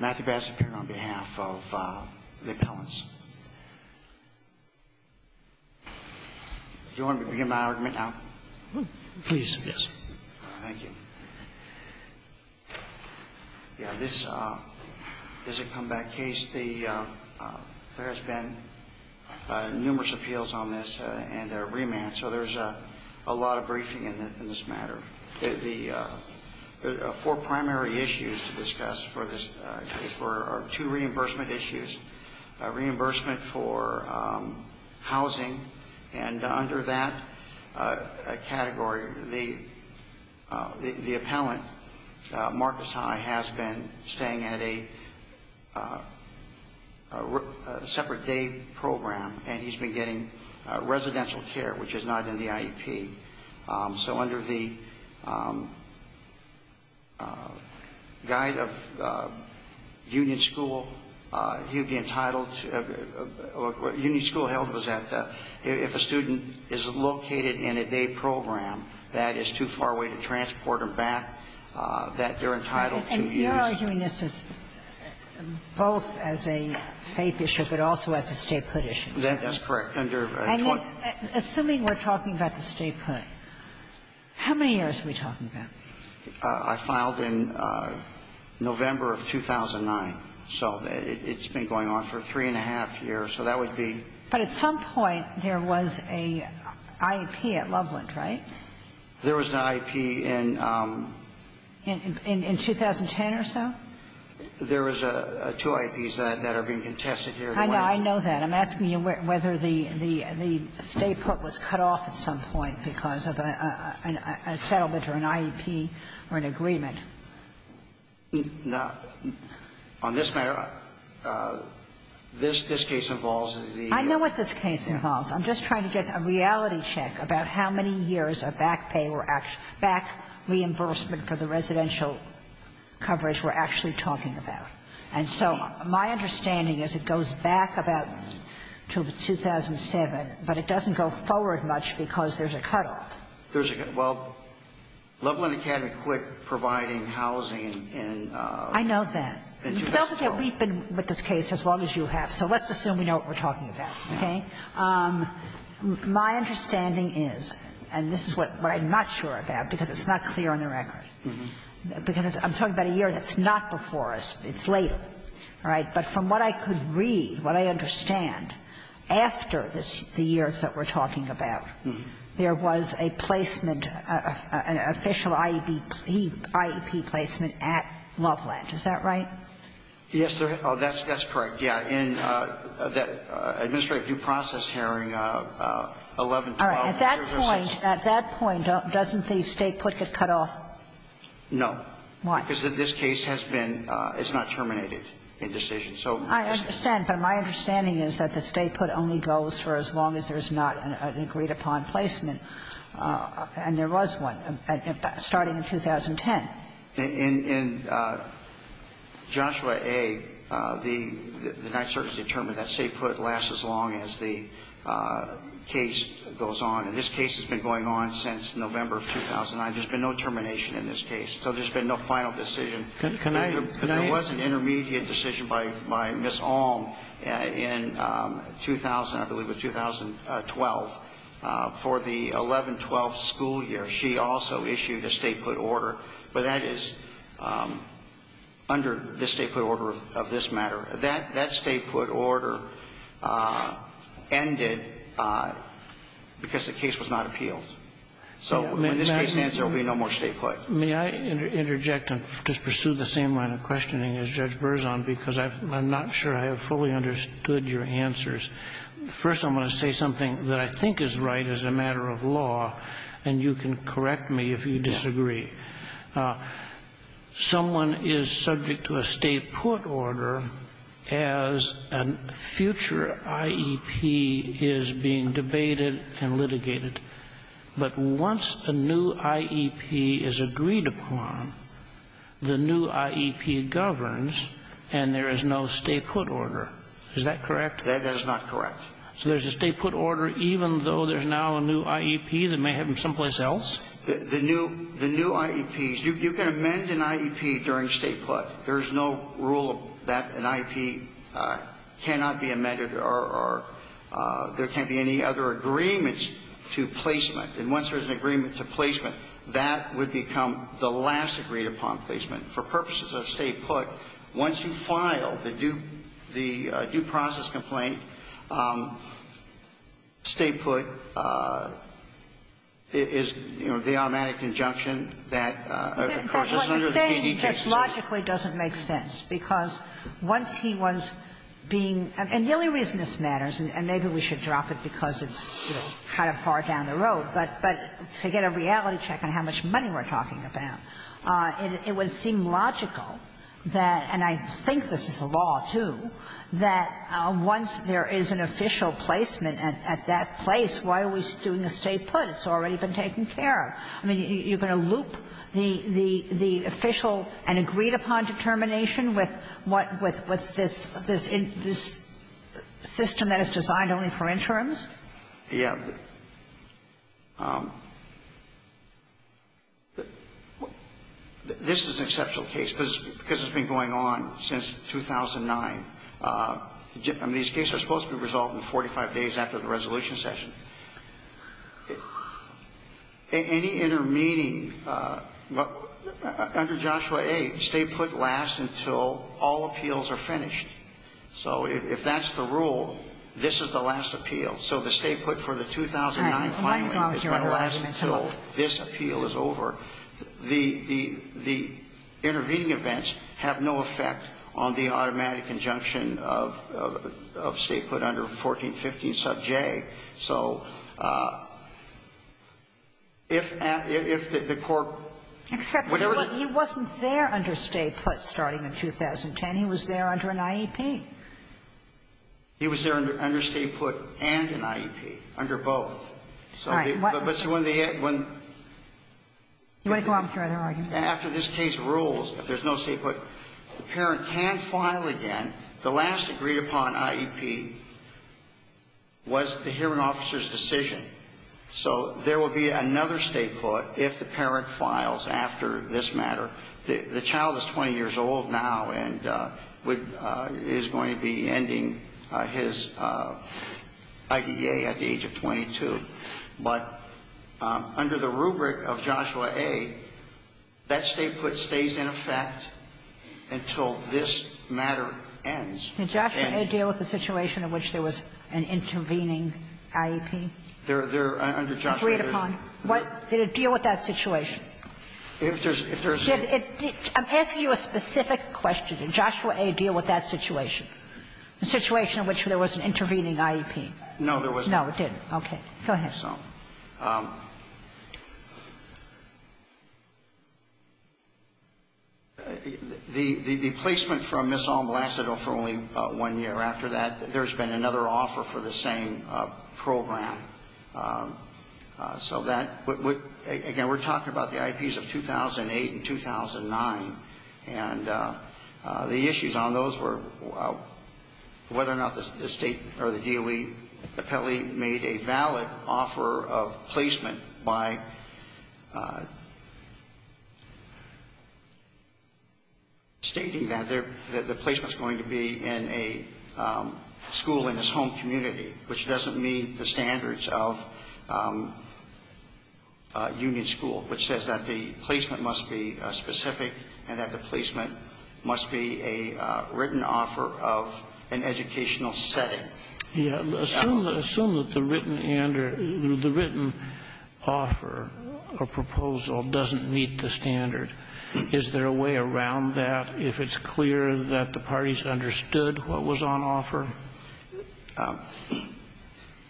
Matthew Bazzapero on behalf of the appellants. Do you want me to begin my argument now? Please, yes. Thank you. Yeah, this is a comeback case. There has been numerous appeals on this and a remand, so there's a lot of briefing in this matter. The four primary issues to discuss are two reimbursement issues, reimbursement for housing, and under that category the appellant, Marcus High, has been staying at a separate day program, and he's been getting residential care, which is not in the IEP. So under the Guide of Union School, he would be entitled to or what Union School held was that if a student is located in a day program that is too far away to transport them back, that they're entitled to use. And you are doing this as both as a faith issue but also as a statehood issue? That's correct. Assuming we're talking about the statehood, how many years are we talking about? I filed in November of 2009, so it's been going on for three and a half years, so that would be But at some point there was a IEP at Loveland, right? There was an IEP in In 2010 or so? There was two IEPs that are being contested here. I know that. I'm asking you whether the state court was cut off at some point because of a settlement or an IEP or an agreement. Now, on this matter, this case involves the ---- I know what this case involves. I'm just trying to get a reality check about how many years of back pay or back reimbursement for the residential coverage we're actually talking about. And so my understanding is it goes back about to 2007, but it doesn't go forward much because there's a cutoff. There's a cutoff. Well, Loveland Academy quit providing housing in 2012. I know that. We've been with this case as long as you have, so let's assume we know what we're talking about, okay? My understanding is, and this is what I'm not sure about because it's not clear on the record, because I'm talking about a year that's not before us. It's later. All right? But from what I could read, what I understand, after the years that we're talking about, there was a placement, an official IEP placement at Loveland. Is that right? Yes. That's correct. Yeah. In that administrative due process hearing, 11-12. At that point, at that point, doesn't the State put get cut off? No. Why? Because this case has been, it's not terminated in decision. I understand. But my understanding is that the State put only goes for as long as there's not an agreed-upon placement, and there was one starting in 2010. In Joshua A., the Ninth Circuit determined that State put lasts as long as the case goes on. And this case has been going on since November of 2009. There's been no termination in this case. So there's been no final decision. Can I ask? Because there was an intermediate decision by Ms. Alm in 2000, I believe it was 2012, for the 11-12 school year. She also issued a State put order, but that is under the State put order of this matter. That State put order ended because the case was not appealed. So when this case ends, there will be no more State put. May I interject and just pursue the same line of questioning as Judge Berzon, because I'm not sure I have fully understood your answers. First, I'm going to say something that I think is right as a matter of law, and you can correct me if you disagree. Someone is subject to a State put order as a future IEP is being debated and litigated. But once a new IEP is agreed upon, the new IEP governs and there is no State put order. Is that correct? That is not correct. So there's a State put order even though there's now a new IEP that may have been someplace else? The new IEPs, you can amend an IEP during State put. There's no rule that an IEP cannot be amended or there can't be any other agreements to placement. And once there's an agreement to placement, that would become the last agreed upon placement. For purposes of State put, once you file the due process complaint, State put is, you know, the automatic injunction that occurs under the PDKC. But what you're saying just logically doesn't make sense, because once he was being – and the only reason this matters, and maybe we should drop it because it's kind of far down the road, but to get a reality check on how much money we're talking about, it would seem logical that – and I think this is the law, too – that once there is an official placement at that place, why are we doing a State put? It's already been taken care of. I mean, you're going to loop the official and agreed-upon determination with what – with this system that is designed only for interims? Yeah. This is an exceptional case, because it's been going on since 2009. I mean, these cases are supposed to be resolved in 45 days after the resolution session. Any intermeeting under Joshua 8, State put lasts until all appeals are finished. So if that's the rule, this is the last appeal. So the State put for the 2009 filing is going to last until this appeal is over. The intervening events have no effect on the automatic injunction of State put under 1415 sub J. So if the court – Except he wasn't there under State put starting in 2010. He was there under an IEP. He was there under State put and an IEP, under both. All right. But when they – when – You want to go on with your other argument? After this case rules, if there's no State put, the parent can file again the last time they agreed upon IEP was the hearing officer's decision. So there will be another State put if the parent files after this matter. The child is 20 years old now and is going to be ending his IDEA at the age of 22. But under the rubric of Joshua 8, that State put stays in effect until this matter ends. Did Joshua 8 deal with the situation in which there was an intervening IEP agreed upon? Did it deal with that situation? I'm asking you a specific question. Did Joshua 8 deal with that situation? The situation in which there was an intervening IEP? No, there was not. No, it didn't. Okay. Go ahead. The placement from Ms. Almalaceto for only one year after that, there's been another offer for the same program. So that – again, we're talking about the IEPs of 2008 and 2009. And the issues on those were whether or not the State or the DOE appellee made a valid offer of placement by stating that the placement is going to be in a school in his home community, which doesn't meet the standards of a union school, which says that the placement must be a written offer of an educational setting. Yeah. Assume that the written offer or proposal doesn't meet the standard. Is there a way around that if it's clear that the parties understood what was on offer?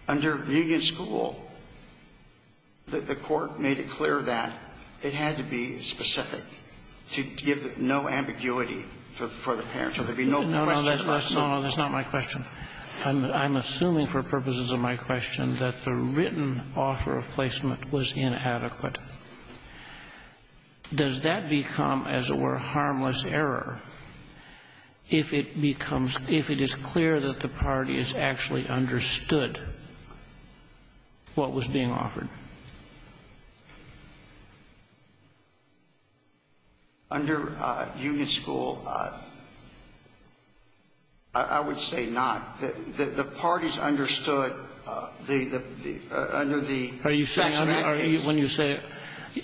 Under union school, the Court made it clear that it had to be specific to give the parents. So there'd be no question of placement. No, no, that's not my question. I'm assuming for purposes of my question that the written offer of placement was inadequate. Does that become, as it were, harmless error if it becomes – if it is clear that the parties actually understood what was being offered? Under union school, I would say not. The parties understood under the facts of that case. Are you saying – when you say –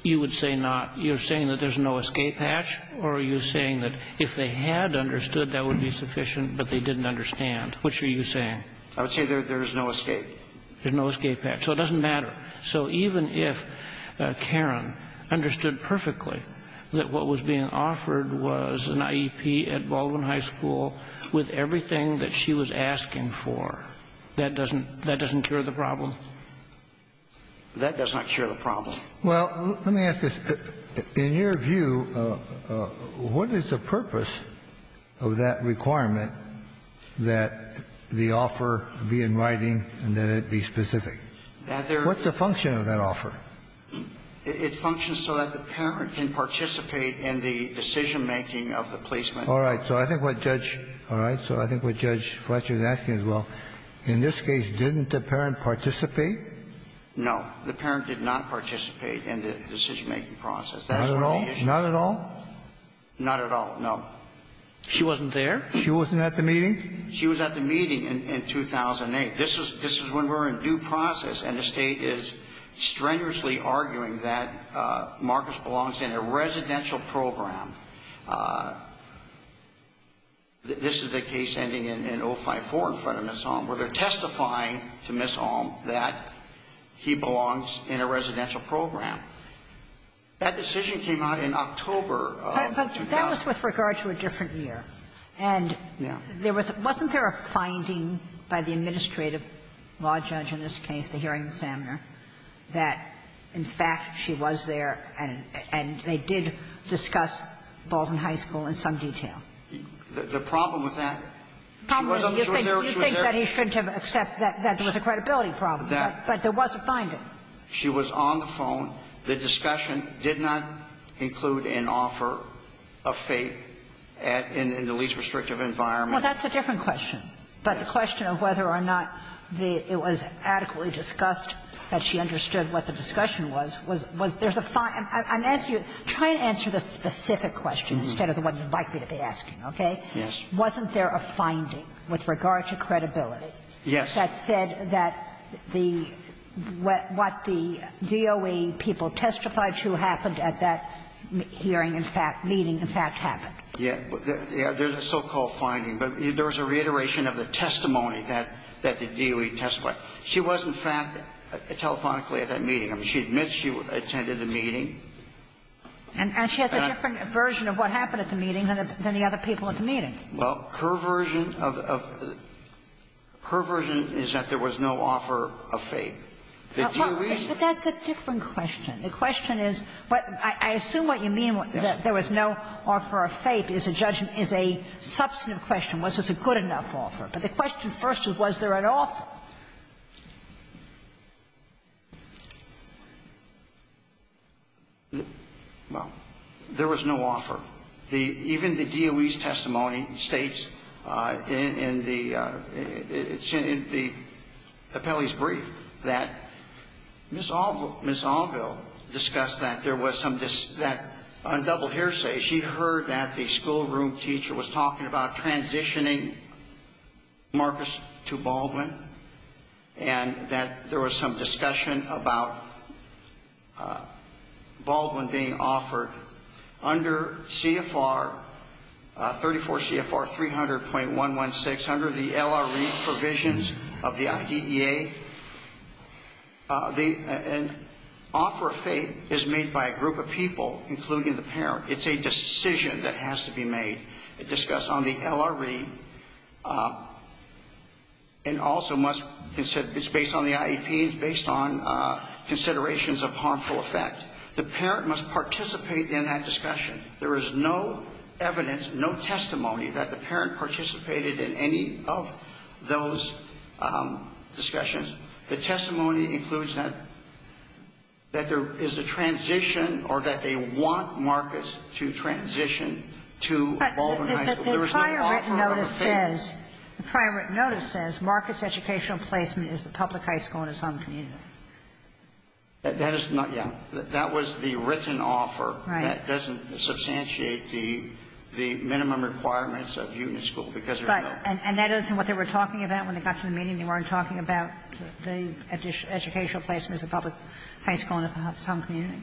you would say not. You're saying that there's no escape hatch, or are you saying that if they had understood, that would be sufficient, but they didn't understand? Which are you saying? I would say there is no escape. There's no escape hatch. So it doesn't matter. So even if Karen understood perfectly that what was being offered was an IEP at Baldwin High School with everything that she was asking for, that doesn't – that doesn't cure the problem? That does not cure the problem. Well, let me ask this. In your view, what is the purpose of that requirement that the offer be in writing and that it be specific? What's the function of that offer? It functions so that the parent can participate in the decision-making of the placement. All right. So I think what Judge – all right. So I think what Judge Fletcher is asking is, well, in this case, didn't the parent participate? No. The parent did not participate in the decision-making process. That's one of the issues. Not at all? Not at all, no. She wasn't there? She wasn't at the meeting? She was at the meeting in 2008. This is when we're in due process and the State is strenuously arguing that Marcus belongs in a residential program. This is the case ending in 054 in front of Ms. Alm, where they're testifying to Ms. Alm that he belongs in a residential program. That decision came out in October of 2000. But that was with regard to a different year. Yeah. Wasn't there a finding by the administrative law judge in this case, the hearing examiner, that, in fact, she was there and they did discuss Bolton High School in some detail? The problem with that? You think that he shouldn't have accepted that there was a credibility problem. But there was a finding. She was on the phone. The discussion did not include an offer of fate in the least restrictive environment. Well, that's a different question. But the question of whether or not it was adequately discussed, that she understood what the discussion was, was there's a find. I'm asking you, try to answer the specific question instead of the one you'd like me to be asking, okay? Yes. Wasn't there a finding with regard to credibility that said that the what the DOE people testified to happened at that hearing, in fact, meeting, in fact, happened? Yeah. There's a so-called finding. But there was a reiteration of the testimony that the DOE testified. She was, in fact, telephonically at that meeting. I mean, she admits she attended the meeting. And she has a different version of what happened at the meeting than the other people at the meeting. Well, her version of the – her version is that there was no offer of fate. The DOE – But that's a different question. The question is – I assume what you mean, that there was no offer of fate, because the judgment is a substantive question, was this a good enough offer. But the question first is, was there an offer? Well, there was no offer. The – even the DOE's testimony states in the – it's in the appellee's Ms. Allville discussed that there was some – that on double hearsay, she heard that the schoolroom teacher was talking about transitioning Marcus to Baldwin, and that there was some discussion about Baldwin being offered under CFR – 34 CFR 300.116, under the LRE provisions of the IDEA. The – an offer of fate is made by a group of people, including the parent. It's a decision that has to be made. It's discussed on the LRE, and also must – it's based on the IEP, it's based on considerations of harmful effect. The parent must participate in that discussion. There is no evidence, no testimony that the parent participated in any of those discussions. The testimony includes that – that there is a transition or that they want Marcus to transition to Baldwin High School. There is no offer of a fate. But the prior written notice says – the prior written notice says Marcus educational placement is the public high school in his home community. That is not – yeah. That was the written offer. Right. And that doesn't substantiate the – the minimum requirements of union school, because there is no – But – and that isn't what they were talking about when they got to the meeting? They weren't talking about the educational placement as a public high school in his home community?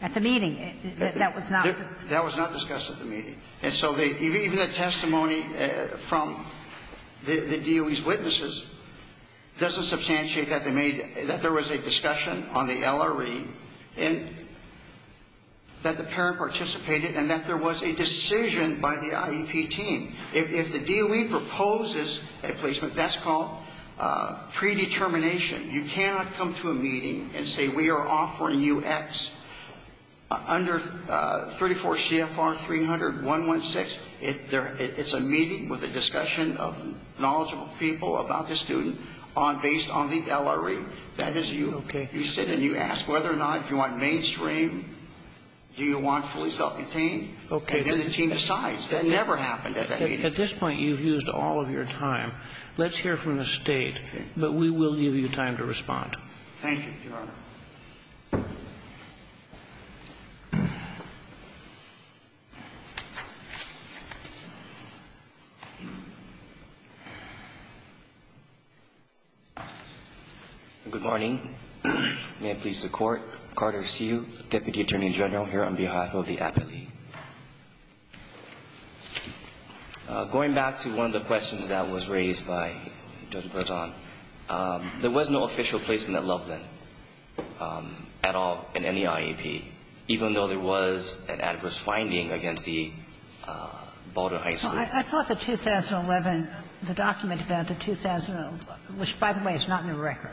At the meeting, that was not the – That was not discussed at the meeting. And so they – even the testimony from the DOE's witnesses doesn't substantiate that they made – that there was a discussion on the LRE and that the parent participated and that there was a decision by the IEP team. If the DOE proposes a placement, that's called predetermination. You cannot come to a meeting and say we are offering UX under 34 CFR 300-116. It's a meeting with a discussion of knowledgeable people about the student based on the LRE. That is you. Okay. You sit and you ask whether or not if you want mainstream, do you want fully self-contained? Okay. And then the team decides. That never happened at that meeting. At this point, you've used all of your time. Let's hear from the State. Okay. But we will give you time to respond. Thank you, Your Honor. Thank you. Good morning. May it please the Court. Carter Hsu, Deputy Attorney General here on behalf of the Advocate League. Going back to one of the questions that was raised by Judge Breton, there was no official placement at Loveland at all in any IEP, even though there was an adverse finding against the Boulder High School. I thought the 2011, the document about the 2011, which, by the way, is not in the record.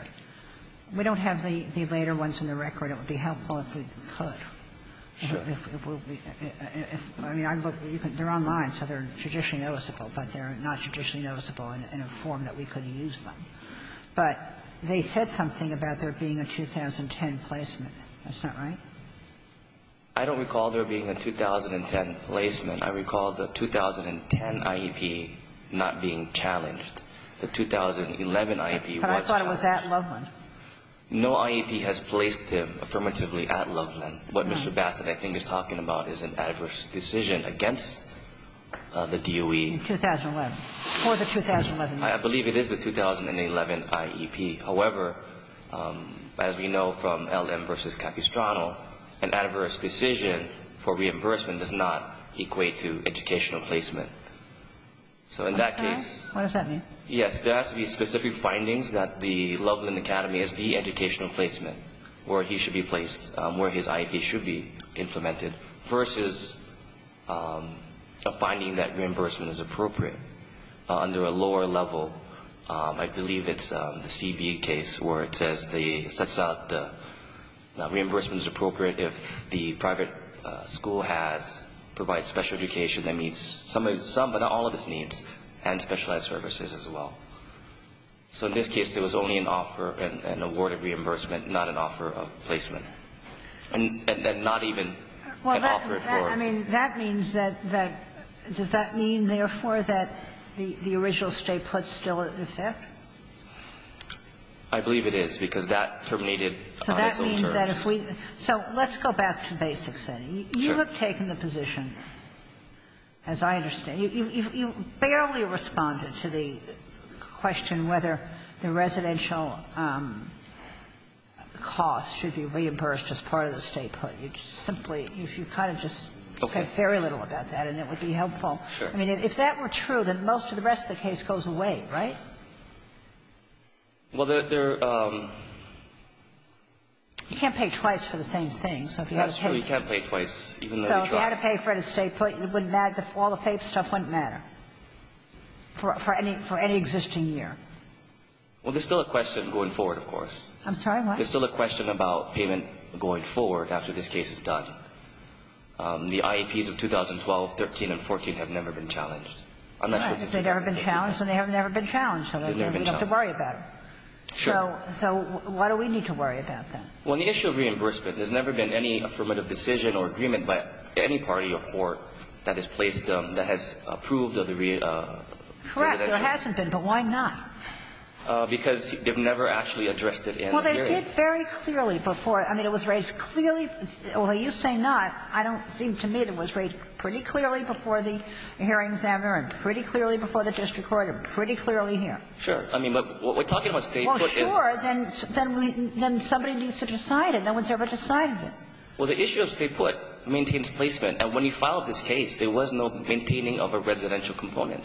We don't have the later ones in the record. It would be helpful if we could. Sure. I mean, they're online, so they're judicially noticeable, but they're not judicially noticeable in a form that we could use them. But they said something about there being a 2010 placement. That's not right? I don't recall there being a 2010 placement. I recall the 2010 IEP not being challenged. The 2011 IEP was challenged. But I thought it was at Loveland. No IEP has placed him affirmatively at Loveland. What Mr. Bassett, I think, is talking about is an adverse decision against the DOE. In 2011. For the 2011 IEP. I believe it is the 2011 IEP. However, as we know from LM versus Capistrano, an adverse decision for reimbursement does not equate to educational placement. So in that case. What does that mean? Yes. There has to be specific findings that the Loveland Academy is the educational placement where he should be placed, where his IEP should be implemented, versus a finding that reimbursement is appropriate. Under a lower level, I believe it's the CB case where it says the, it sets out the reimbursement is appropriate if the private school has, provides special education that meets some but not all of its needs, and specialized services as well. So in this case, there was only an offer, an award of reimbursement, not an offer of placement. And not even an offer for. I mean, that means that, that, does that mean, therefore, that the original statehood is still in effect? I believe it is, because that terminated on its own terms. So that means that if we, so let's go back to basics then. Sure. You have taken the position, as I understand, you barely responded to the question whether the residential cost should be reimbursed as part of the statehood. You simply, you kind of just said very little about that, and it would be helpful. Sure. I mean, if that were true, then most of the rest of the case goes away, right? Well, there, there. You can't pay twice for the same thing. So if you had to pay. That's true. You can't pay twice, even though you tried. So if you had to pay for it to stay put, you wouldn't, all the FAPE stuff wouldn't matter for any, for any existing year. Well, there's still a question going forward, of course. I'm sorry, what? There's still a question about payment going forward after this case is done. The IAPs of 2012, 13, and 14 have never been challenged. I'm not sure if they've been challenged. Right. They've never been challenged, and they have never been challenged. They've never been challenged. So then we don't have to worry about it. Sure. So why do we need to worry about that? Well, on the issue of reimbursement, there's never been any affirmative decision or agreement by any party or court that has placed them, that has approved of the reimbursement. Correct. There hasn't been, but why not? Because they've never actually addressed it in the hearing. Well, they did very clearly before. I mean, it was raised clearly. Well, you say not. I don't think, to me, it was raised pretty clearly before the hearings and pretty clearly before the district court and pretty clearly here. Sure. I mean, but what we're talking about, State Court, is. Well, sure. Then somebody needs to decide it. No one's ever decided it. Well, the issue of State Court maintains placement. And when you filed this case, there was no maintaining of a residential component.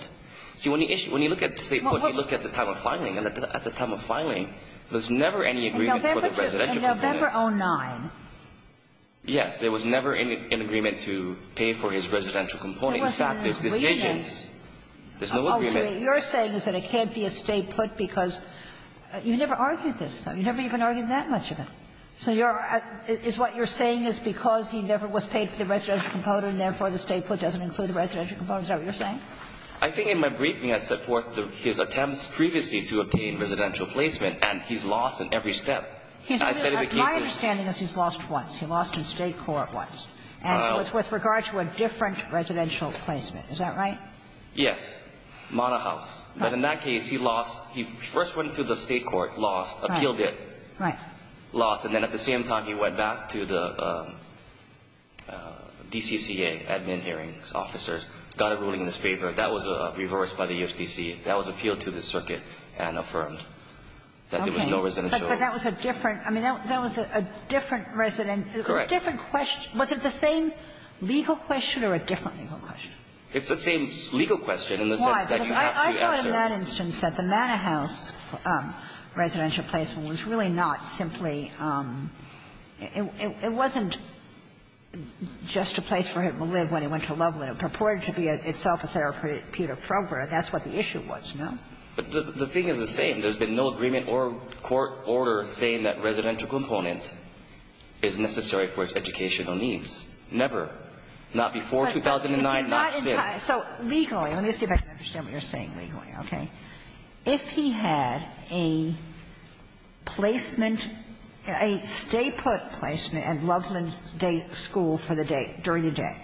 See, when you look at State Court, you look at the time of filing, and at the time of filing, there was never any agreement for the residential component. In November 09. Yes. There was never an agreement to pay for his residential component. In fact, there's decisions. There's no agreement. What you're saying is that it can't be a State put because you never argued this. You never even argued that much of it. So you're at – is what you're saying is because he never was paid for the residential Is that what you're saying? I think in my briefing, I set forth his attempts previously to obtain residential placement, and he's lost in every step. I said if it gives us – My understanding is he's lost once. He lost in State court once. And it was with regard to a different residential placement. Is that right? Yes. Mana House. But in that case, he lost – he first went to the State court, lost, appealed it. Right. Lost, and then at the same time, he went back to the DCCA, admin hearings officers, got a ruling in his favor. That was reversed by the USDC. That was appealed to the circuit and affirmed. Okay. That there was no residential. But that was a different – I mean, that was a different residential. Correct. It was a different question. Was it the same legal question or a different legal question? It's the same legal question in the sense that you have to answer – Why? I know in that instance that the Mana House residential placement was really not simply – it wasn't just a place where he would live when he went to Loveland. It purported to be itself a therapeutic program. That's what the issue was, no? But the thing is the same. There's been no agreement or court order saying that residential component is necessary for its educational needs. Never. Not before 2009, not since. So legally – let me see if I can understand what you're saying legally, okay? If he had a placement, a stay-put placement at Loveland Day School for the day, during the day,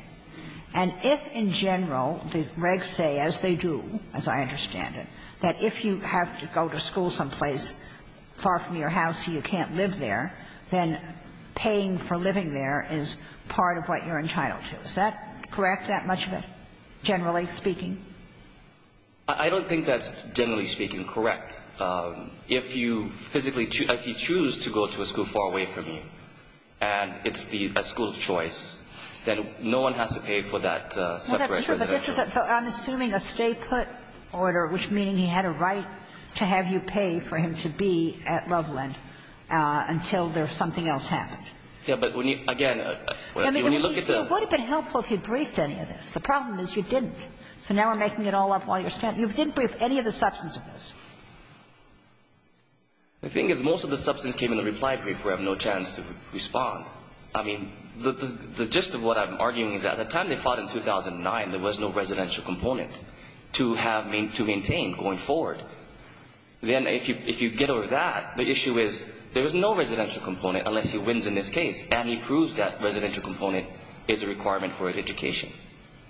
and if in general the regs say, as they do, as I understand it, that if you have to go to school someplace far from your house, you can't live there, then paying for living there is part of what you're entitled to. Is that correct, that much of it, generally speaking? I don't think that's generally speaking correct. If you physically – if you choose to go to a school far away from you and it's a school of choice, then no one has to pay for that separate residential. I'm assuming a stay-put order, which meaning he had a right to have you pay for him to be at Loveland until something else happened. Yes, but again, when you look at the – It would have been helpful if you briefed any of this. The problem is you didn't. So now we're making it all up while you're standing. You didn't brief any of the substance of this. The thing is most of the substance came in the reply brief. We have no chance to respond. I mean, the gist of what I'm arguing is at the time they fought in 2009, there was no residential component to have – to maintain going forward. Then if you get over that, the issue is there was no residential component unless he wins in this case and he proves that residential component is a requirement for an education.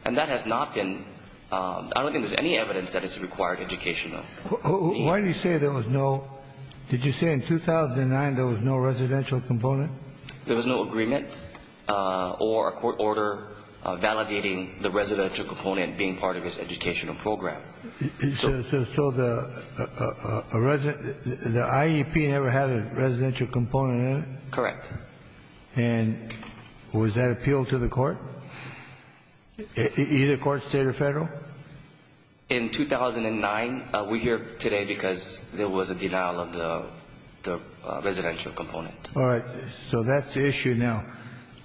And that has not been – I don't think there's any evidence that it's a required education. Why do you say there was no – did you say in 2009 there was no residential component? There was no agreement or a court order validating the residential component being part of his educational program. So the resident – the IEP never had a residential component in it? Correct. And was that appealed to the court? Either court, State or Federal? In 2009. We're here today because there was a denial of the residential component. All right. So that's the issue now.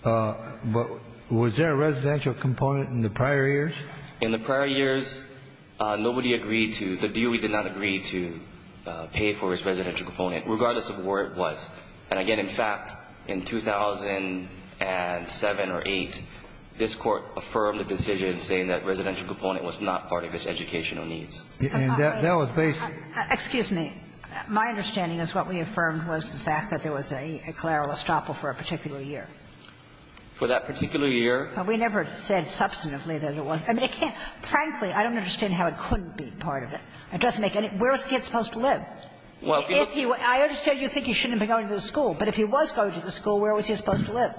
But was there a residential component in the prior years? In the prior years, nobody agreed to the deal. We did not agree to pay for his residential component, regardless of where it was. And, again, in fact, in 2007 or 2008, this Court affirmed a decision saying that residential component was not part of his educational needs. And that was basically – But there was no residential component in the E.C.L.A.R.A. or Estoppel for a particular year? For that particular year? We never said substantively that it was. I mean, it can't – frankly, I don't understand how it couldn't be part of it. It doesn't make any – where was the kid supposed to live? Well, if he was – I understand you think he shouldn't have been going to the school. But if he was going to the school, where was he supposed to live?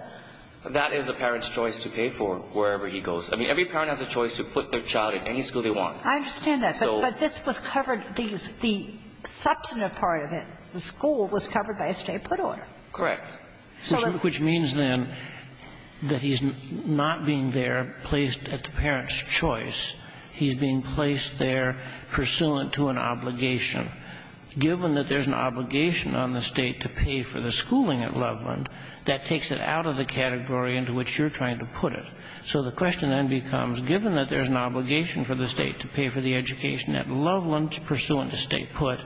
That is a parent's choice to pay for wherever he goes. I mean, every parent has a choice to put their child in any school they want. I understand that. But this was covered – the substantive part of it, the school, was covered by a straight-put order. Correct. Which means, then, that he's not being there placed at the parent's choice. He's being placed there pursuant to an obligation. Given that there's an obligation on the State to pay for the schooling at Loveland, that takes it out of the category into which you're trying to put it. So the question then becomes, given that there's an obligation for the State to pay for the education at Loveland pursuant to state put,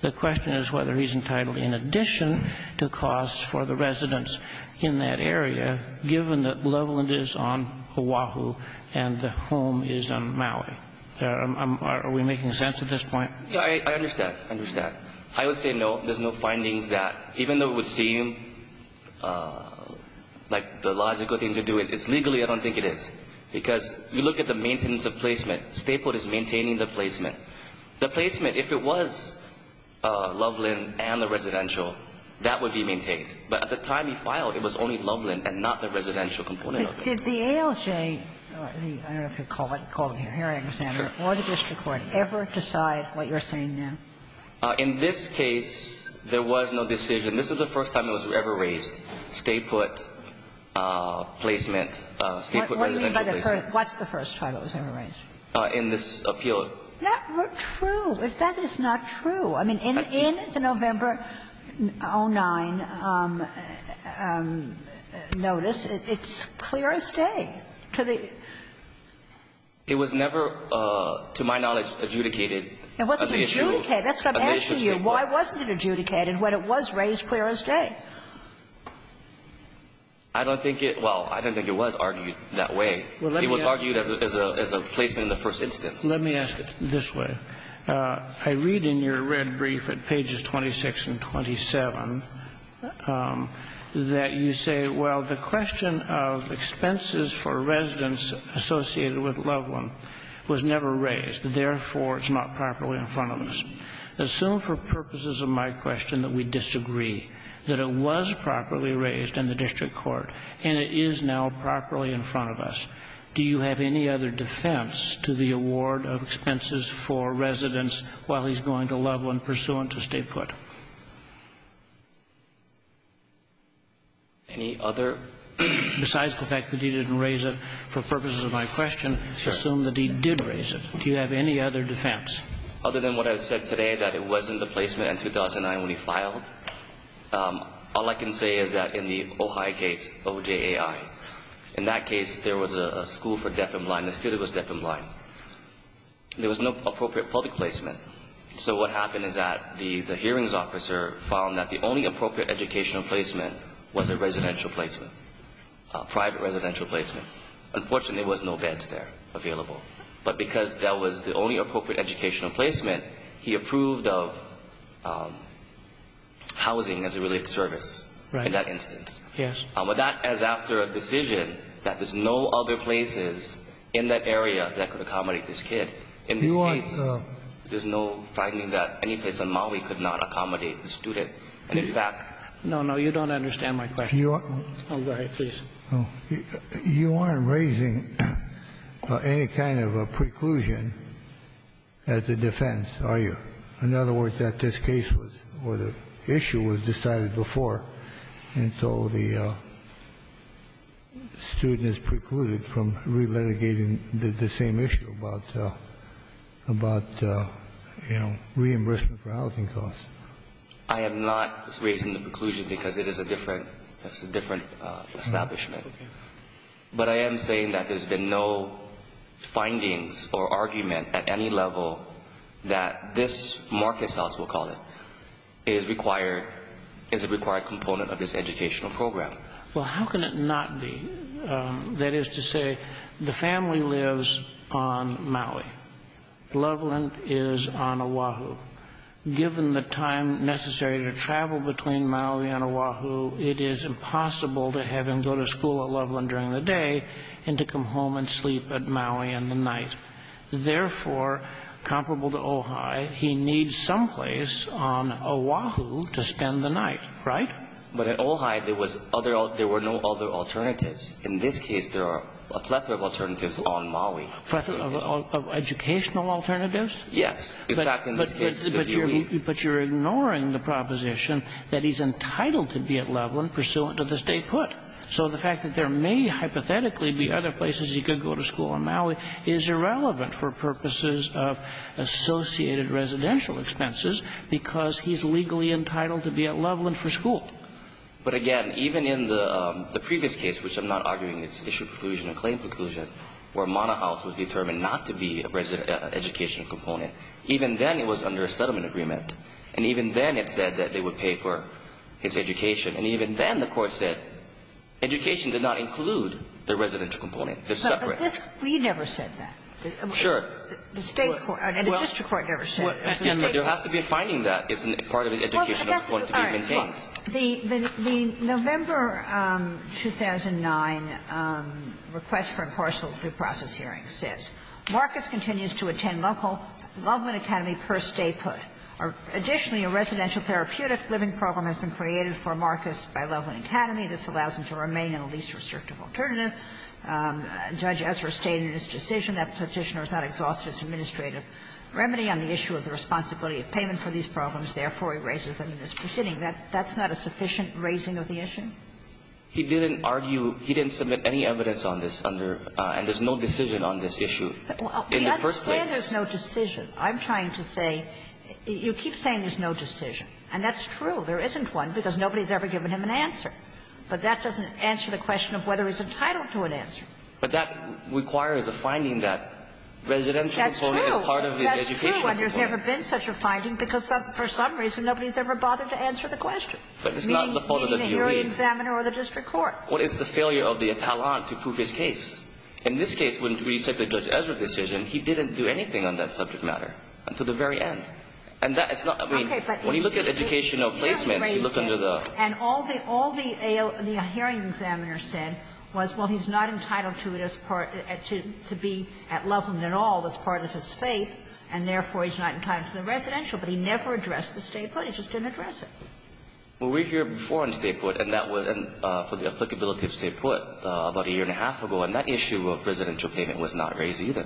the question is whether he's entitled, in addition to costs for the residents in that area, given that Loveland is on Oahu and the home is on Maui. Are we making sense at this point? Yeah, I understand. I understand. I would say no. There's no findings that, even though it would seem like the logical thing to do it, it's legally I don't think it is. Because you look at the maintenance of placement. State put is maintaining the placement. The placement, if it was Loveland and the residential, that would be maintained. But at the time he filed, it was only Loveland and not the residential component of it. Did the ALJ – I don't know if you'd call it, call it here, I understand. Sure. Or the district court ever decide what you're saying now? In this case, there was no decision. This was the first time it was ever raised, state put placement, state put residential placement. What's the first time it was ever raised? In this appeal. True. That is not true. I mean, in the November 09 notice, it's clear as day. It was never, to my knowledge, adjudicated as an issue. It wasn't adjudicated. That's what I'm asking you. Why wasn't it adjudicated when it was raised clear as day? I don't think it – well, I don't think it was argued that way. It was argued as a placement in the first instance. Let me ask it this way. I read in your red brief at pages 26 and 27 that you say, well, the question of expenses for residents associated with Loveland was never raised. Therefore, it's not properly in front of us. Assume for purposes of my question that we disagree, that it was properly raised in the district court, and it is now properly in front of us. Do you have any other defense to the award of expenses for residents while he's going to Loveland pursuant to state put? Any other? Besides the fact that he didn't raise it for purposes of my question, assume that he did raise it. Do you have any other defense? Other than what I said today, that it wasn't the placement in 2009 when he filed, all I can say is that in the Ojai case, O-J-A-I, in that case there was a school for deaf and blind. The student was deaf and blind. There was no appropriate public placement. So what happened is that the hearings officer found that the only appropriate educational placement was a residential placement, a private residential placement. Unfortunately, there was no beds there available. But because that was the only appropriate educational placement, he approved of housing as a related service. Right. In that instance. Yes. But that is after a decision that there's no other places in that area that could accommodate this kid. In this case, there's no finding that any place in Maui could not accommodate the student. And in fact no, no, you don't understand my question. Oh, go ahead, please. You aren't raising any kind of a preclusion as a defense, are you? In other words, that this case was or the issue was decided before and so the student is precluded from re-litigating the same issue about, you know, reimbursement for housing costs. I am not raising the preclusion because it is a different establishment. But I am saying that there's been no findings or argument at any level that this market source, we'll call it, is a required component of this educational program. Well, how can it not be? That is to say, the family lives on Maui. Loveland is on Oahu. Given the time necessary to travel between Maui and Oahu, it is impossible to have him go to school at Loveland during the day and to come home and sleep at Maui in the night. Therefore, comparable to Ojai, he needs some place on Oahu to spend the night, right? But at Ojai, there was no other alternatives. In this case, there are a plethora of alternatives on Maui. A plethora of educational alternatives? Yes. But you're ignoring the proposition that he's entitled to be at Loveland pursuant to this day put. So the fact that there may hypothetically be other places he could go to school on Maui is irrelevant for purposes of associated residential expenses because he's legally entitled to be at Loveland for school. But again, even in the previous case, which I'm not arguing it's issue preclusion and claim preclusion, where Mauna House was determined not to be an educational component, even then it was under a settlement agreement, and even then it said that they would pay for his education, and even then the Court said education did not include the residential component. They're separate. But you never said that. Sure. The State court and the district court never said that. But there has to be a finding that it's part of an educational component to be maintained. The November 2009 request for impartial due process hearing says, Marcus continues to attend local Loveland Academy per stay put. Additionally, a residential therapeutic living program has been created for Marcus by Loveland Academy. This allows him to remain in a least restrictive alternative. Judge Ezra stated in his decision that Petitioner is not exhausted as an administrative remedy on the issue of the responsibility of payment for these problems. Therefore, he raises them in this proceeding. That's not a sufficient raising of the issue? He didn't argue. He didn't submit any evidence on this under and there's no decision on this issue in the first place. Well, that's where there's no decision. I'm trying to say, you keep saying there's no decision, and that's true. There isn't one because nobody's ever given him an answer. But that doesn't answer the question of whether he's entitled to an answer. But that requires a finding that residential component is part of the educational component. That's true. That's true, and there's never been such a finding because for some reason nobody's ever bothered to answer the question. Meaning the hearing examiner or the district court. But it's not the fault of the jury. But it's the failure of the appellant to prove his case. In this case, when we said the Judge Ezra decision, he didn't do anything on that subject matter until the very end. And that is not the reason. When you look at educational placements, you look under the ---- And all the hearing examiner said was, well, he's not entitled to it as part of his faith, and therefore he's not entitled to the residential, but he never addressed the stay put. He just didn't address it. Well, we're here before on stay put, and that was for the applicability of stay put about a year and a half ago. And that issue of residential payment was not raised either.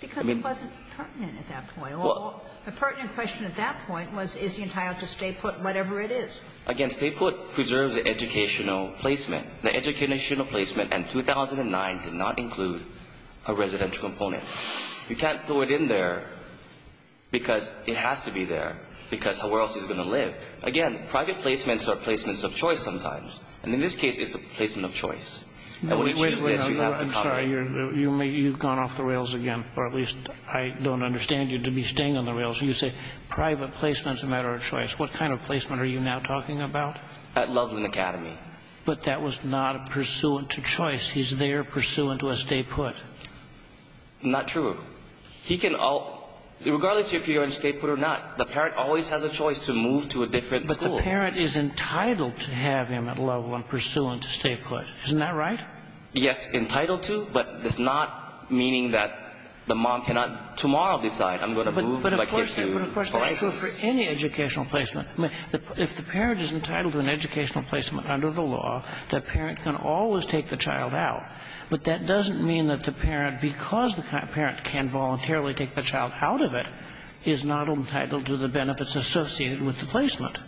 Because it wasn't pertinent at that point. Well, the pertinent question at that point was, is he entitled to stay put whatever it is? Again, stay put preserves the educational placement. The educational placement in 2009 did not include a residential component. You can't throw it in there because it has to be there, because where else is he going to live? Again, private placements are placements of choice sometimes. And in this case, it's a placement of choice. And when it's used, yes, you have a comment. I'm sorry. You've gone off the rails again, or at least I don't understand you to be staying on the rails. You say private placements are a matter of choice. What kind of placement are you now talking about? At Loveland Academy. But that was not pursuant to choice. He's there pursuant to a stay put. Not true. He can all, regardless if you're going to stay put or not, the parent always has a choice to move to a different school. But the parent is entitled to have him at Loveland pursuant to stay put. Isn't that right? Yes, entitled to, but it's not meaning that the mom cannot tomorrow decide, I'm going to move. But of course that's true for any educational placement. I mean, if the parent is entitled to an educational placement under the law, the parent can always take the child out. But that doesn't mean that the parent, because the parent can voluntarily take the child out of it, is not entitled to the benefits associated with the placement.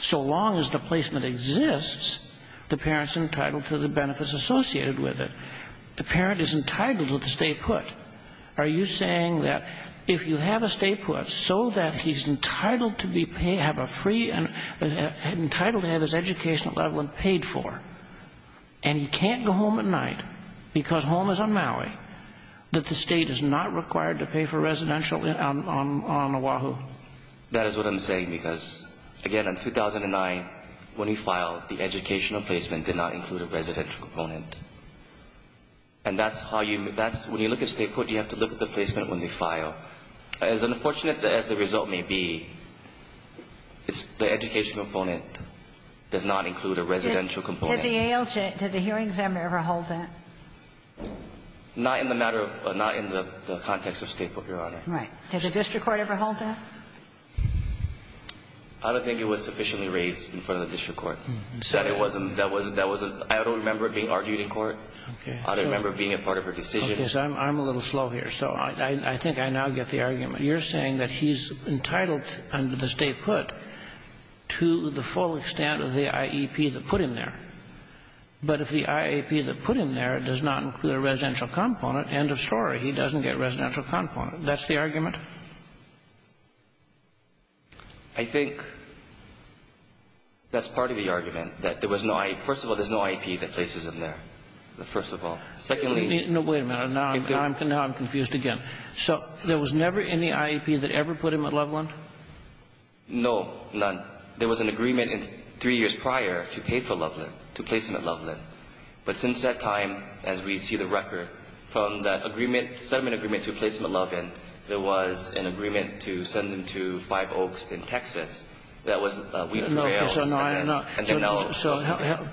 So long as the placement exists, the parent's entitled to the benefits associated with it. The parent is entitled to stay put. Are you saying that if you have a stay put so that he's entitled to be paid, have a free, entitled to have his education at Loveland paid for, and he can't go home at night because home is on Maui, that the state is not required to pay for residential on Oahu? That is what I'm saying because, again, in 2009, when we filed, the educational placement did not include a residential component. And that's how you, when you look at stay put, you have to look at the placement when they file. As unfortunate as the result may be, the educational component does not include a residential component. Did the ALJ, did the hearing examiner ever hold that? Not in the matter of, not in the context of stay put, Your Honor. Right. Did the district court ever hold that? I don't think it was sufficiently raised in front of the district court. That it wasn't, that wasn't, that wasn't, I don't remember it being argued in court. I don't remember it being a part of her decision. Okay. So I'm a little slow here. So I think I now get the argument. You're saying that he's entitled under the stay put to the full extent of the IEP that put him there. But if the IEP that put him there does not include a residential component, end of story. He doesn't get residential component. That's the argument? I think that's part of the argument, that there was no IEP. First of all, there's no IEP that places him there. First of all. Secondly. No, wait a minute. Now I'm confused again. So there was never any IEP that ever put him at Loveland? No, none. There was an agreement three years prior to pay for Loveland. To place him at Loveland. But since that time, as we see the record, from the agreement, settlement agreement to place him at Loveland, there was an agreement to send him to Five Oaks in Texas. That was a week of bail. So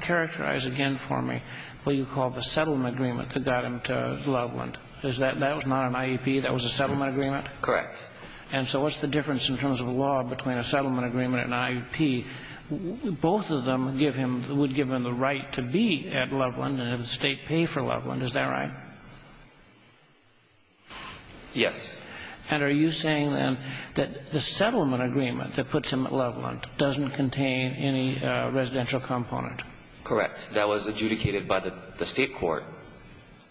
characterize again for me what you call the settlement agreement that got him to Loveland. Is that, that was not an IEP? That was a settlement agreement? And so what's the difference in terms of law between a settlement agreement and an IEP? Both of them give him, would give him the right to be at Loveland and have the State pay for Loveland. Is that right? Yes. And are you saying then that the settlement agreement that puts him at Loveland doesn't contain any residential component? Correct. That was adjudicated by the State court.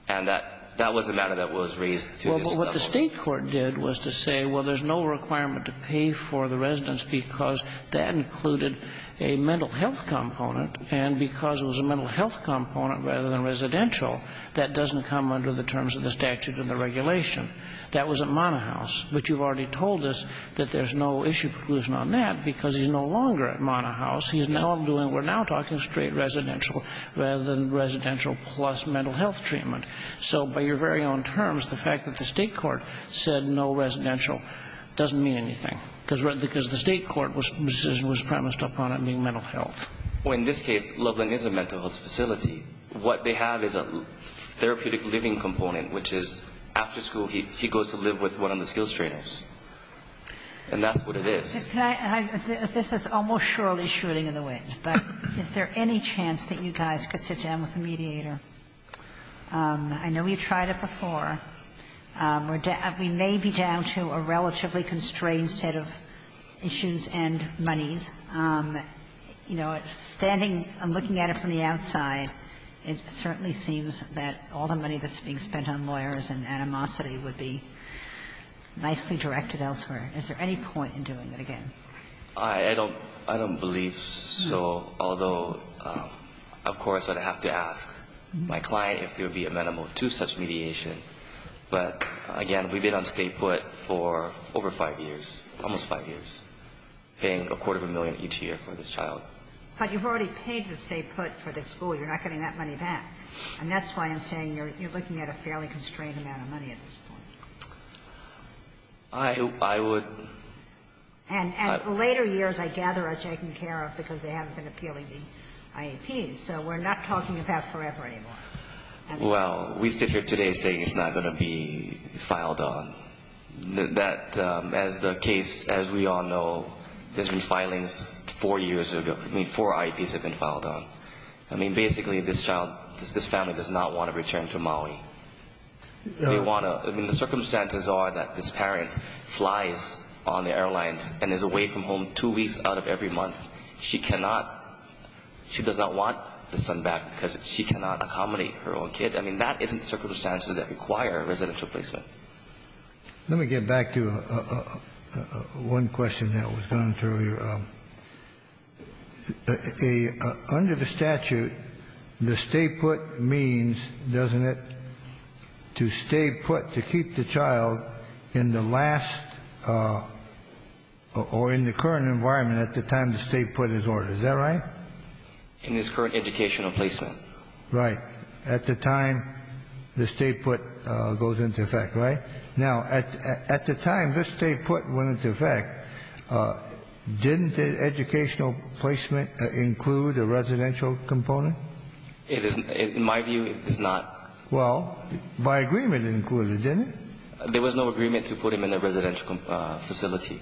And that, that was the matter that was raised to his settlement. Well, but what the State court did was to say, well, there's no requirement to pay for the residence because that included a mental health component. And because it was a mental health component rather than residential, that doesn't come under the terms of the statutes and the regulation. That was at Mana House. But you've already told us that there's no issue conclusion on that because he's no longer at Mana House. He is now doing, we're now talking straight residential rather than residential plus mental health treatment. So by your very own terms, the fact that the State court said no residential doesn't mean anything. Because the State court's decision was premised upon it being mental health. Well, in this case, Loveland is a mental health facility. What they have is a therapeutic living component, which is after school, he goes to live with one of the skills trainers. And that's what it is. Can I, this is almost surely shooting in the wind, but is there any chance that you guys could sit down with a mediator? I know you've tried it before. We may be down to a relatively constrained set of issues and monies. You know, standing, looking at it from the outside, it certainly seems that all the money that's being spent on lawyers and animosity would be nicely directed elsewhere. Is there any point in doing it again? I don't believe so, although, of course, I'd have to ask my client if there would be a minimum to such mediation. But, again, we've been on stay put for over 5 years, almost 5 years, paying a quarter of a million each year for this child. But you've already paid the stay put for the school. You're not getting that money back. And that's why I'm saying you're looking at a fairly constrained amount of money at this point. I would. And later years, I gather, are taken care of because they haven't been appealing the IAPs. So we're not talking about forever anymore. Well, we sit here today saying it's not going to be filed on. That, as the case, as we all know, there's been filings 4 years ago. I mean, 4 IAPs have been filed on. I mean, basically, this child, this family does not want to return to Maui. They want to, I mean, the circumstances are that this parent flies on the airlines and is away from home 2 weeks out of every month. She cannot, she does not want the son back because she cannot accommodate her own kid. I mean, that isn't the circumstances that require residential placement. Let me get back to one question that was gone through. Under the statute, the stay put means, doesn't it, to stay put, to keep the child in the last or in the current environment at the time the stay put is ordered. Is that right? In this current educational placement. Right. At the time the stay put goes into effect, right? Now, at the time this stay put went into effect, didn't the educational placement include a residential component? It is, in my view, it does not. Well, by agreement it included, didn't it? There was no agreement to put him in a residential facility.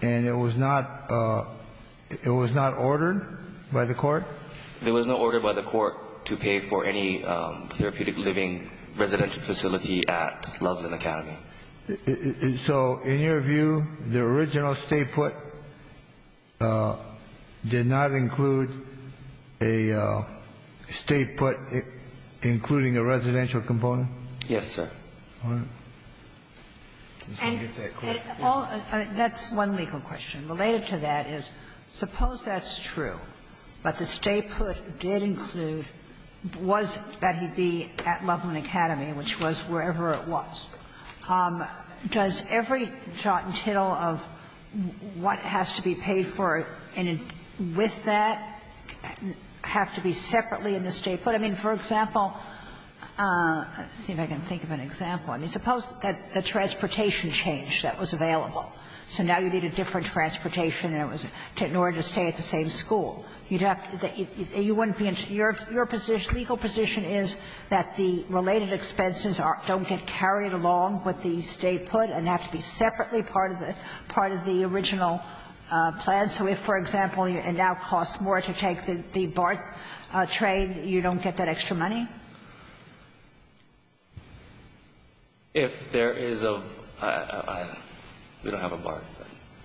And it was not, it was not ordered by the court? There was no order by the court to pay for any therapeutic living residential facility at Loveland Academy. So, in your view, the original stay put did not include a stay put including a residential component? Yes, sir. And that's one legal question. Related to that is, suppose that's true, but the stay put did include, was that he'd be at Loveland Academy, which was wherever it was. Does every jot and tittle of what has to be paid for with that have to be separately in the stay put? I mean, for example, let's see if I can think of an example. I mean, suppose that the transportation change that was available. So now you need a different transportation and it was in order to stay at the same school. You'd have to be, you wouldn't be in, your position, legal position is that the related expenses don't get carried along with the stay put and have to be separately part of the original plan. So if, for example, it now costs more to take the BART train, you don't get that extra money? If there is a, we don't have a BART.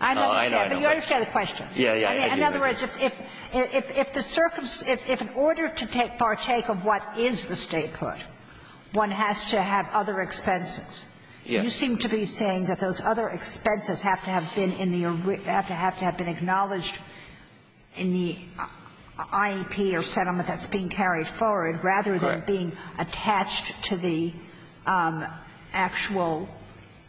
I understand, but you understand the question. In other words, if the circumstances, if in order to partake of what is the stay put, one has to have other expenses. Yes. You seem to be saying that those other expenses have to have been in the, have to have been acknowledged in the IEP or settlement that's being carried forward, rather than being attached to the actual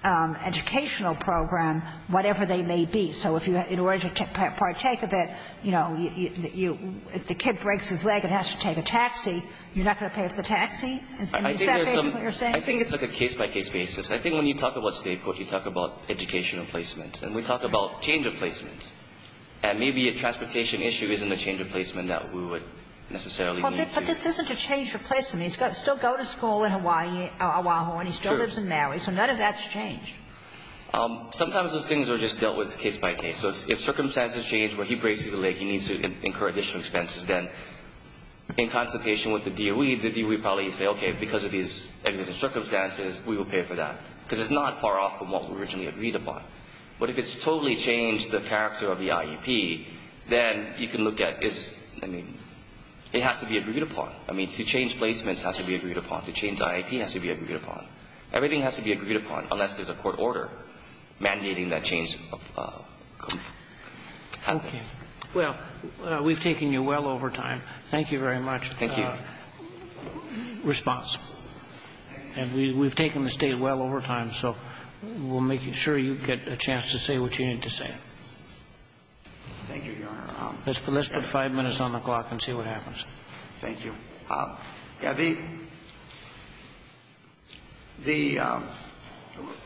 educational program, whatever they may be. So if you, in order to partake of it, you know, if the kid breaks his leg and has to take a taxi, you're not going to pay for the taxi? Is that basically what you're saying? I think it's like a case-by-case basis. I think when you talk about stay put, you talk about educational placement. And we talk about change of placement. And maybe a transportation issue isn't a change of placement that we would necessarily need to. But this isn't a change of placement. He's got to still go to school in Hawaii, Oahu, and he still lives in Maui. So none of that's changed. Sometimes those things are just dealt with case-by-case. So if circumstances change where he breaks his leg, he needs to incur additional expenses, then in consultation with the DOE, the DOE probably will say, okay, because of these circumstances, we will pay for that. Because it's not far off from what we originally agreed upon. But if it's totally changed the character of the IEP, then you can look at, I mean, it has to be agreed upon. I mean, to change placements has to be agreed upon. To change IEP has to be agreed upon. Everything has to be agreed upon, unless there's a court order mandating that change come. Okay. Well, we've taken you well over time. Thank you very much. Thank you. And we've taken the State well over time, so we'll make sure you get a chance to say what you need to say. Thank you, Your Honor. Let's put five minutes on the clock and see what happens. Thank you. The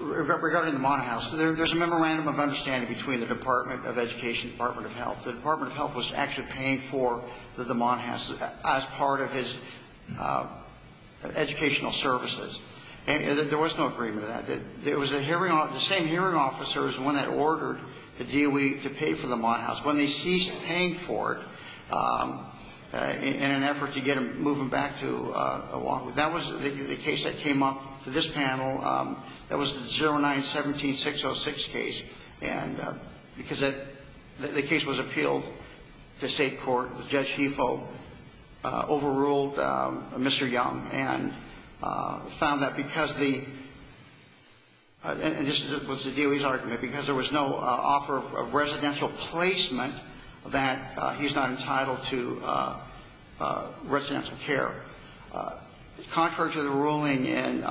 regarding the Monhouse, there's a memorandum of understanding between the Department of Education and the Department of Health. And there was no agreement on that. It was the same hearing officer is the one that ordered the DOE to pay for the Monhouse. When they ceased paying for it in an effort to get them moving back to a walk-in, that was the case that came up for this panel. That was the 09-17-606 case. And because the case was appealed to State court, Judge Hefo overruled Mr. Young and found that because the — and this was the DOE's argument — because there was no offer of residential placement, that he's not entitled to residential care. Contrary to the ruling in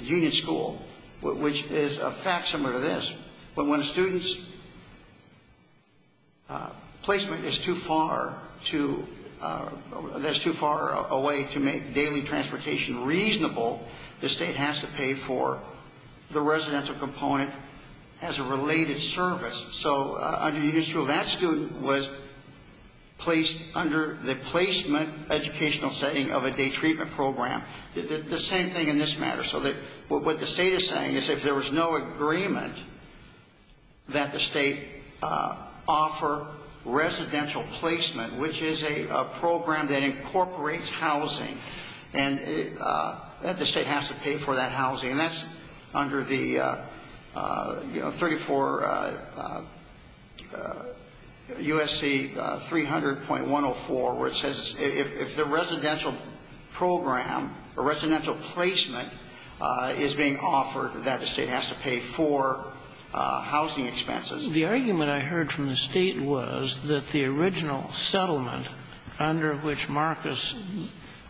Union School, which is a fact similar to this, but when a student's placement is too far to — that's too far away to make daily transportation reasonable, the state has to pay for the residential component as a related service. So under Union School, that student was placed under the placement educational setting of a day treatment program. The same thing in this matter. So what the state is saying is if there was no agreement that the state offer residential placement, which is a program that incorporates housing, and the state has to pay for that under USC 300.104, where it says if the residential program or residential placement is being offered, that the state has to pay for housing expenses. The argument I heard from the State was that the original settlement under which Marcus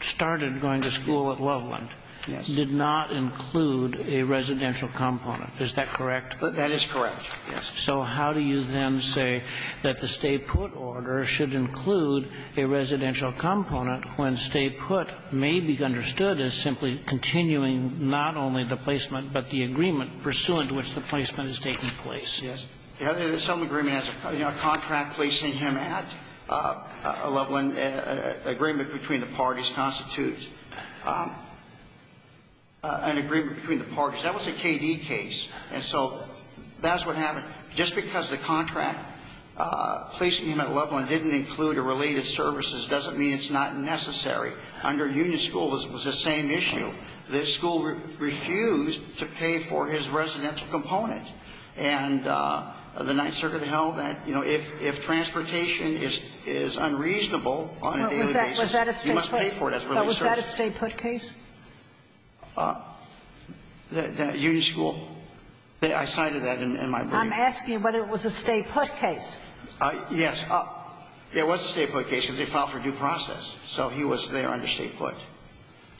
started going to school at Loveland did not include a residential component. Is that correct? That is correct, yes. So how do you then say that the stay-put order should include a residential component when stay-put may be understood as simply continuing not only the placement, but the agreement pursuant to which the placement is taking place? Yes. Some agreement has a contract placing him at Loveland, an agreement between the parties constitutes an agreement between the parties. That was a KD case. And so that's what happened. Just because the contract placing him at Loveland didn't include a related services doesn't mean it's not necessary. Under Union School, it was the same issue. The school refused to pay for his residential component. And the Ninth Circuit held that, you know, if transportation is unreasonable on a daily basis, you must pay for it as a related service. But was that a stay-put case? Union School, I cited that in my briefing. I'm asking whether it was a stay-put case. Yes. It was a stay-put case because they filed for due process. So he was there under stay-put.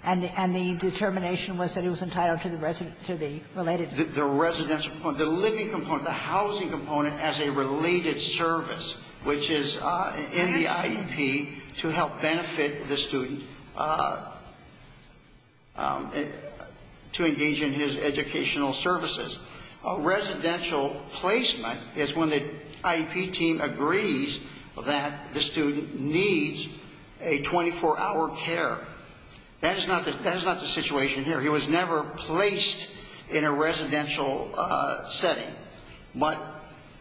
And the determination was that it was entitled to the resident to the related service. The residential component, the living component, the housing component as a related service, which is in the IEP to help benefit the student. To engage in his educational services. Residential placement is when the IEP team agrees that the student needs a 24-hour care. That is not the situation here. He was never placed in a residential setting. But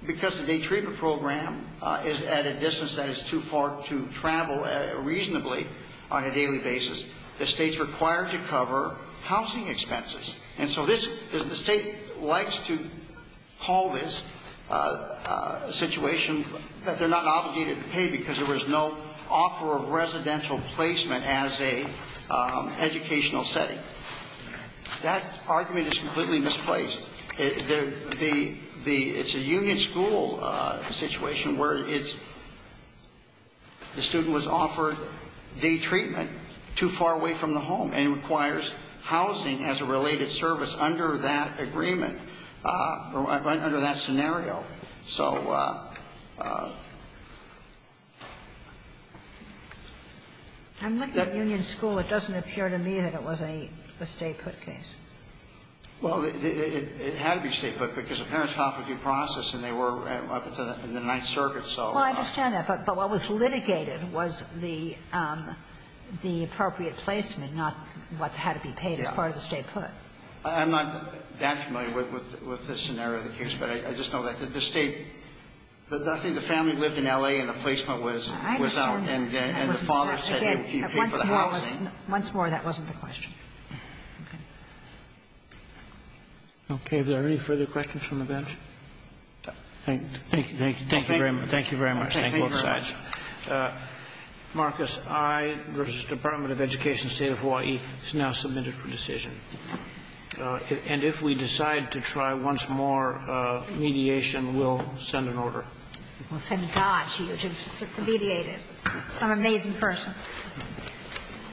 because the day treatment program is at a distance that is too far to travel reasonably on a daily basis, the state's required to cover housing expenses. And so this, the state likes to call this a situation that they're not obligated to pay because there was no offer of residential placement as a educational setting. That argument is completely misplaced. It's a union school situation where it's the student was offered day treatment too far away from the home, and it requires housing as a related service under that agreement, under that scenario. So the union school, it doesn't appear to me that it was a stay-put case. Well, it had to be stay-put because the parents offered due process and they were up until the Ninth Circuit, so. Well, I understand that. But what was litigated was the appropriate placement, not what had to be paid as part of the stay-put. I'm not that familiar with the scenario of the case, but I just know that the state the family lived in L.A. and the placement was out. I understand that. And the father said he paid for the housing. Once more, that wasn't the question. Okay. Okay. Are there any further questions from the bench? Thank you. Thank you very much. Thank you very much. Thank you both sides. Marcus, I versus Department of Education, State of Hawaii, is now submitted for decision. And if we decide to try once more mediation, we'll send an order. We'll send a judge to mediate it, some amazing person.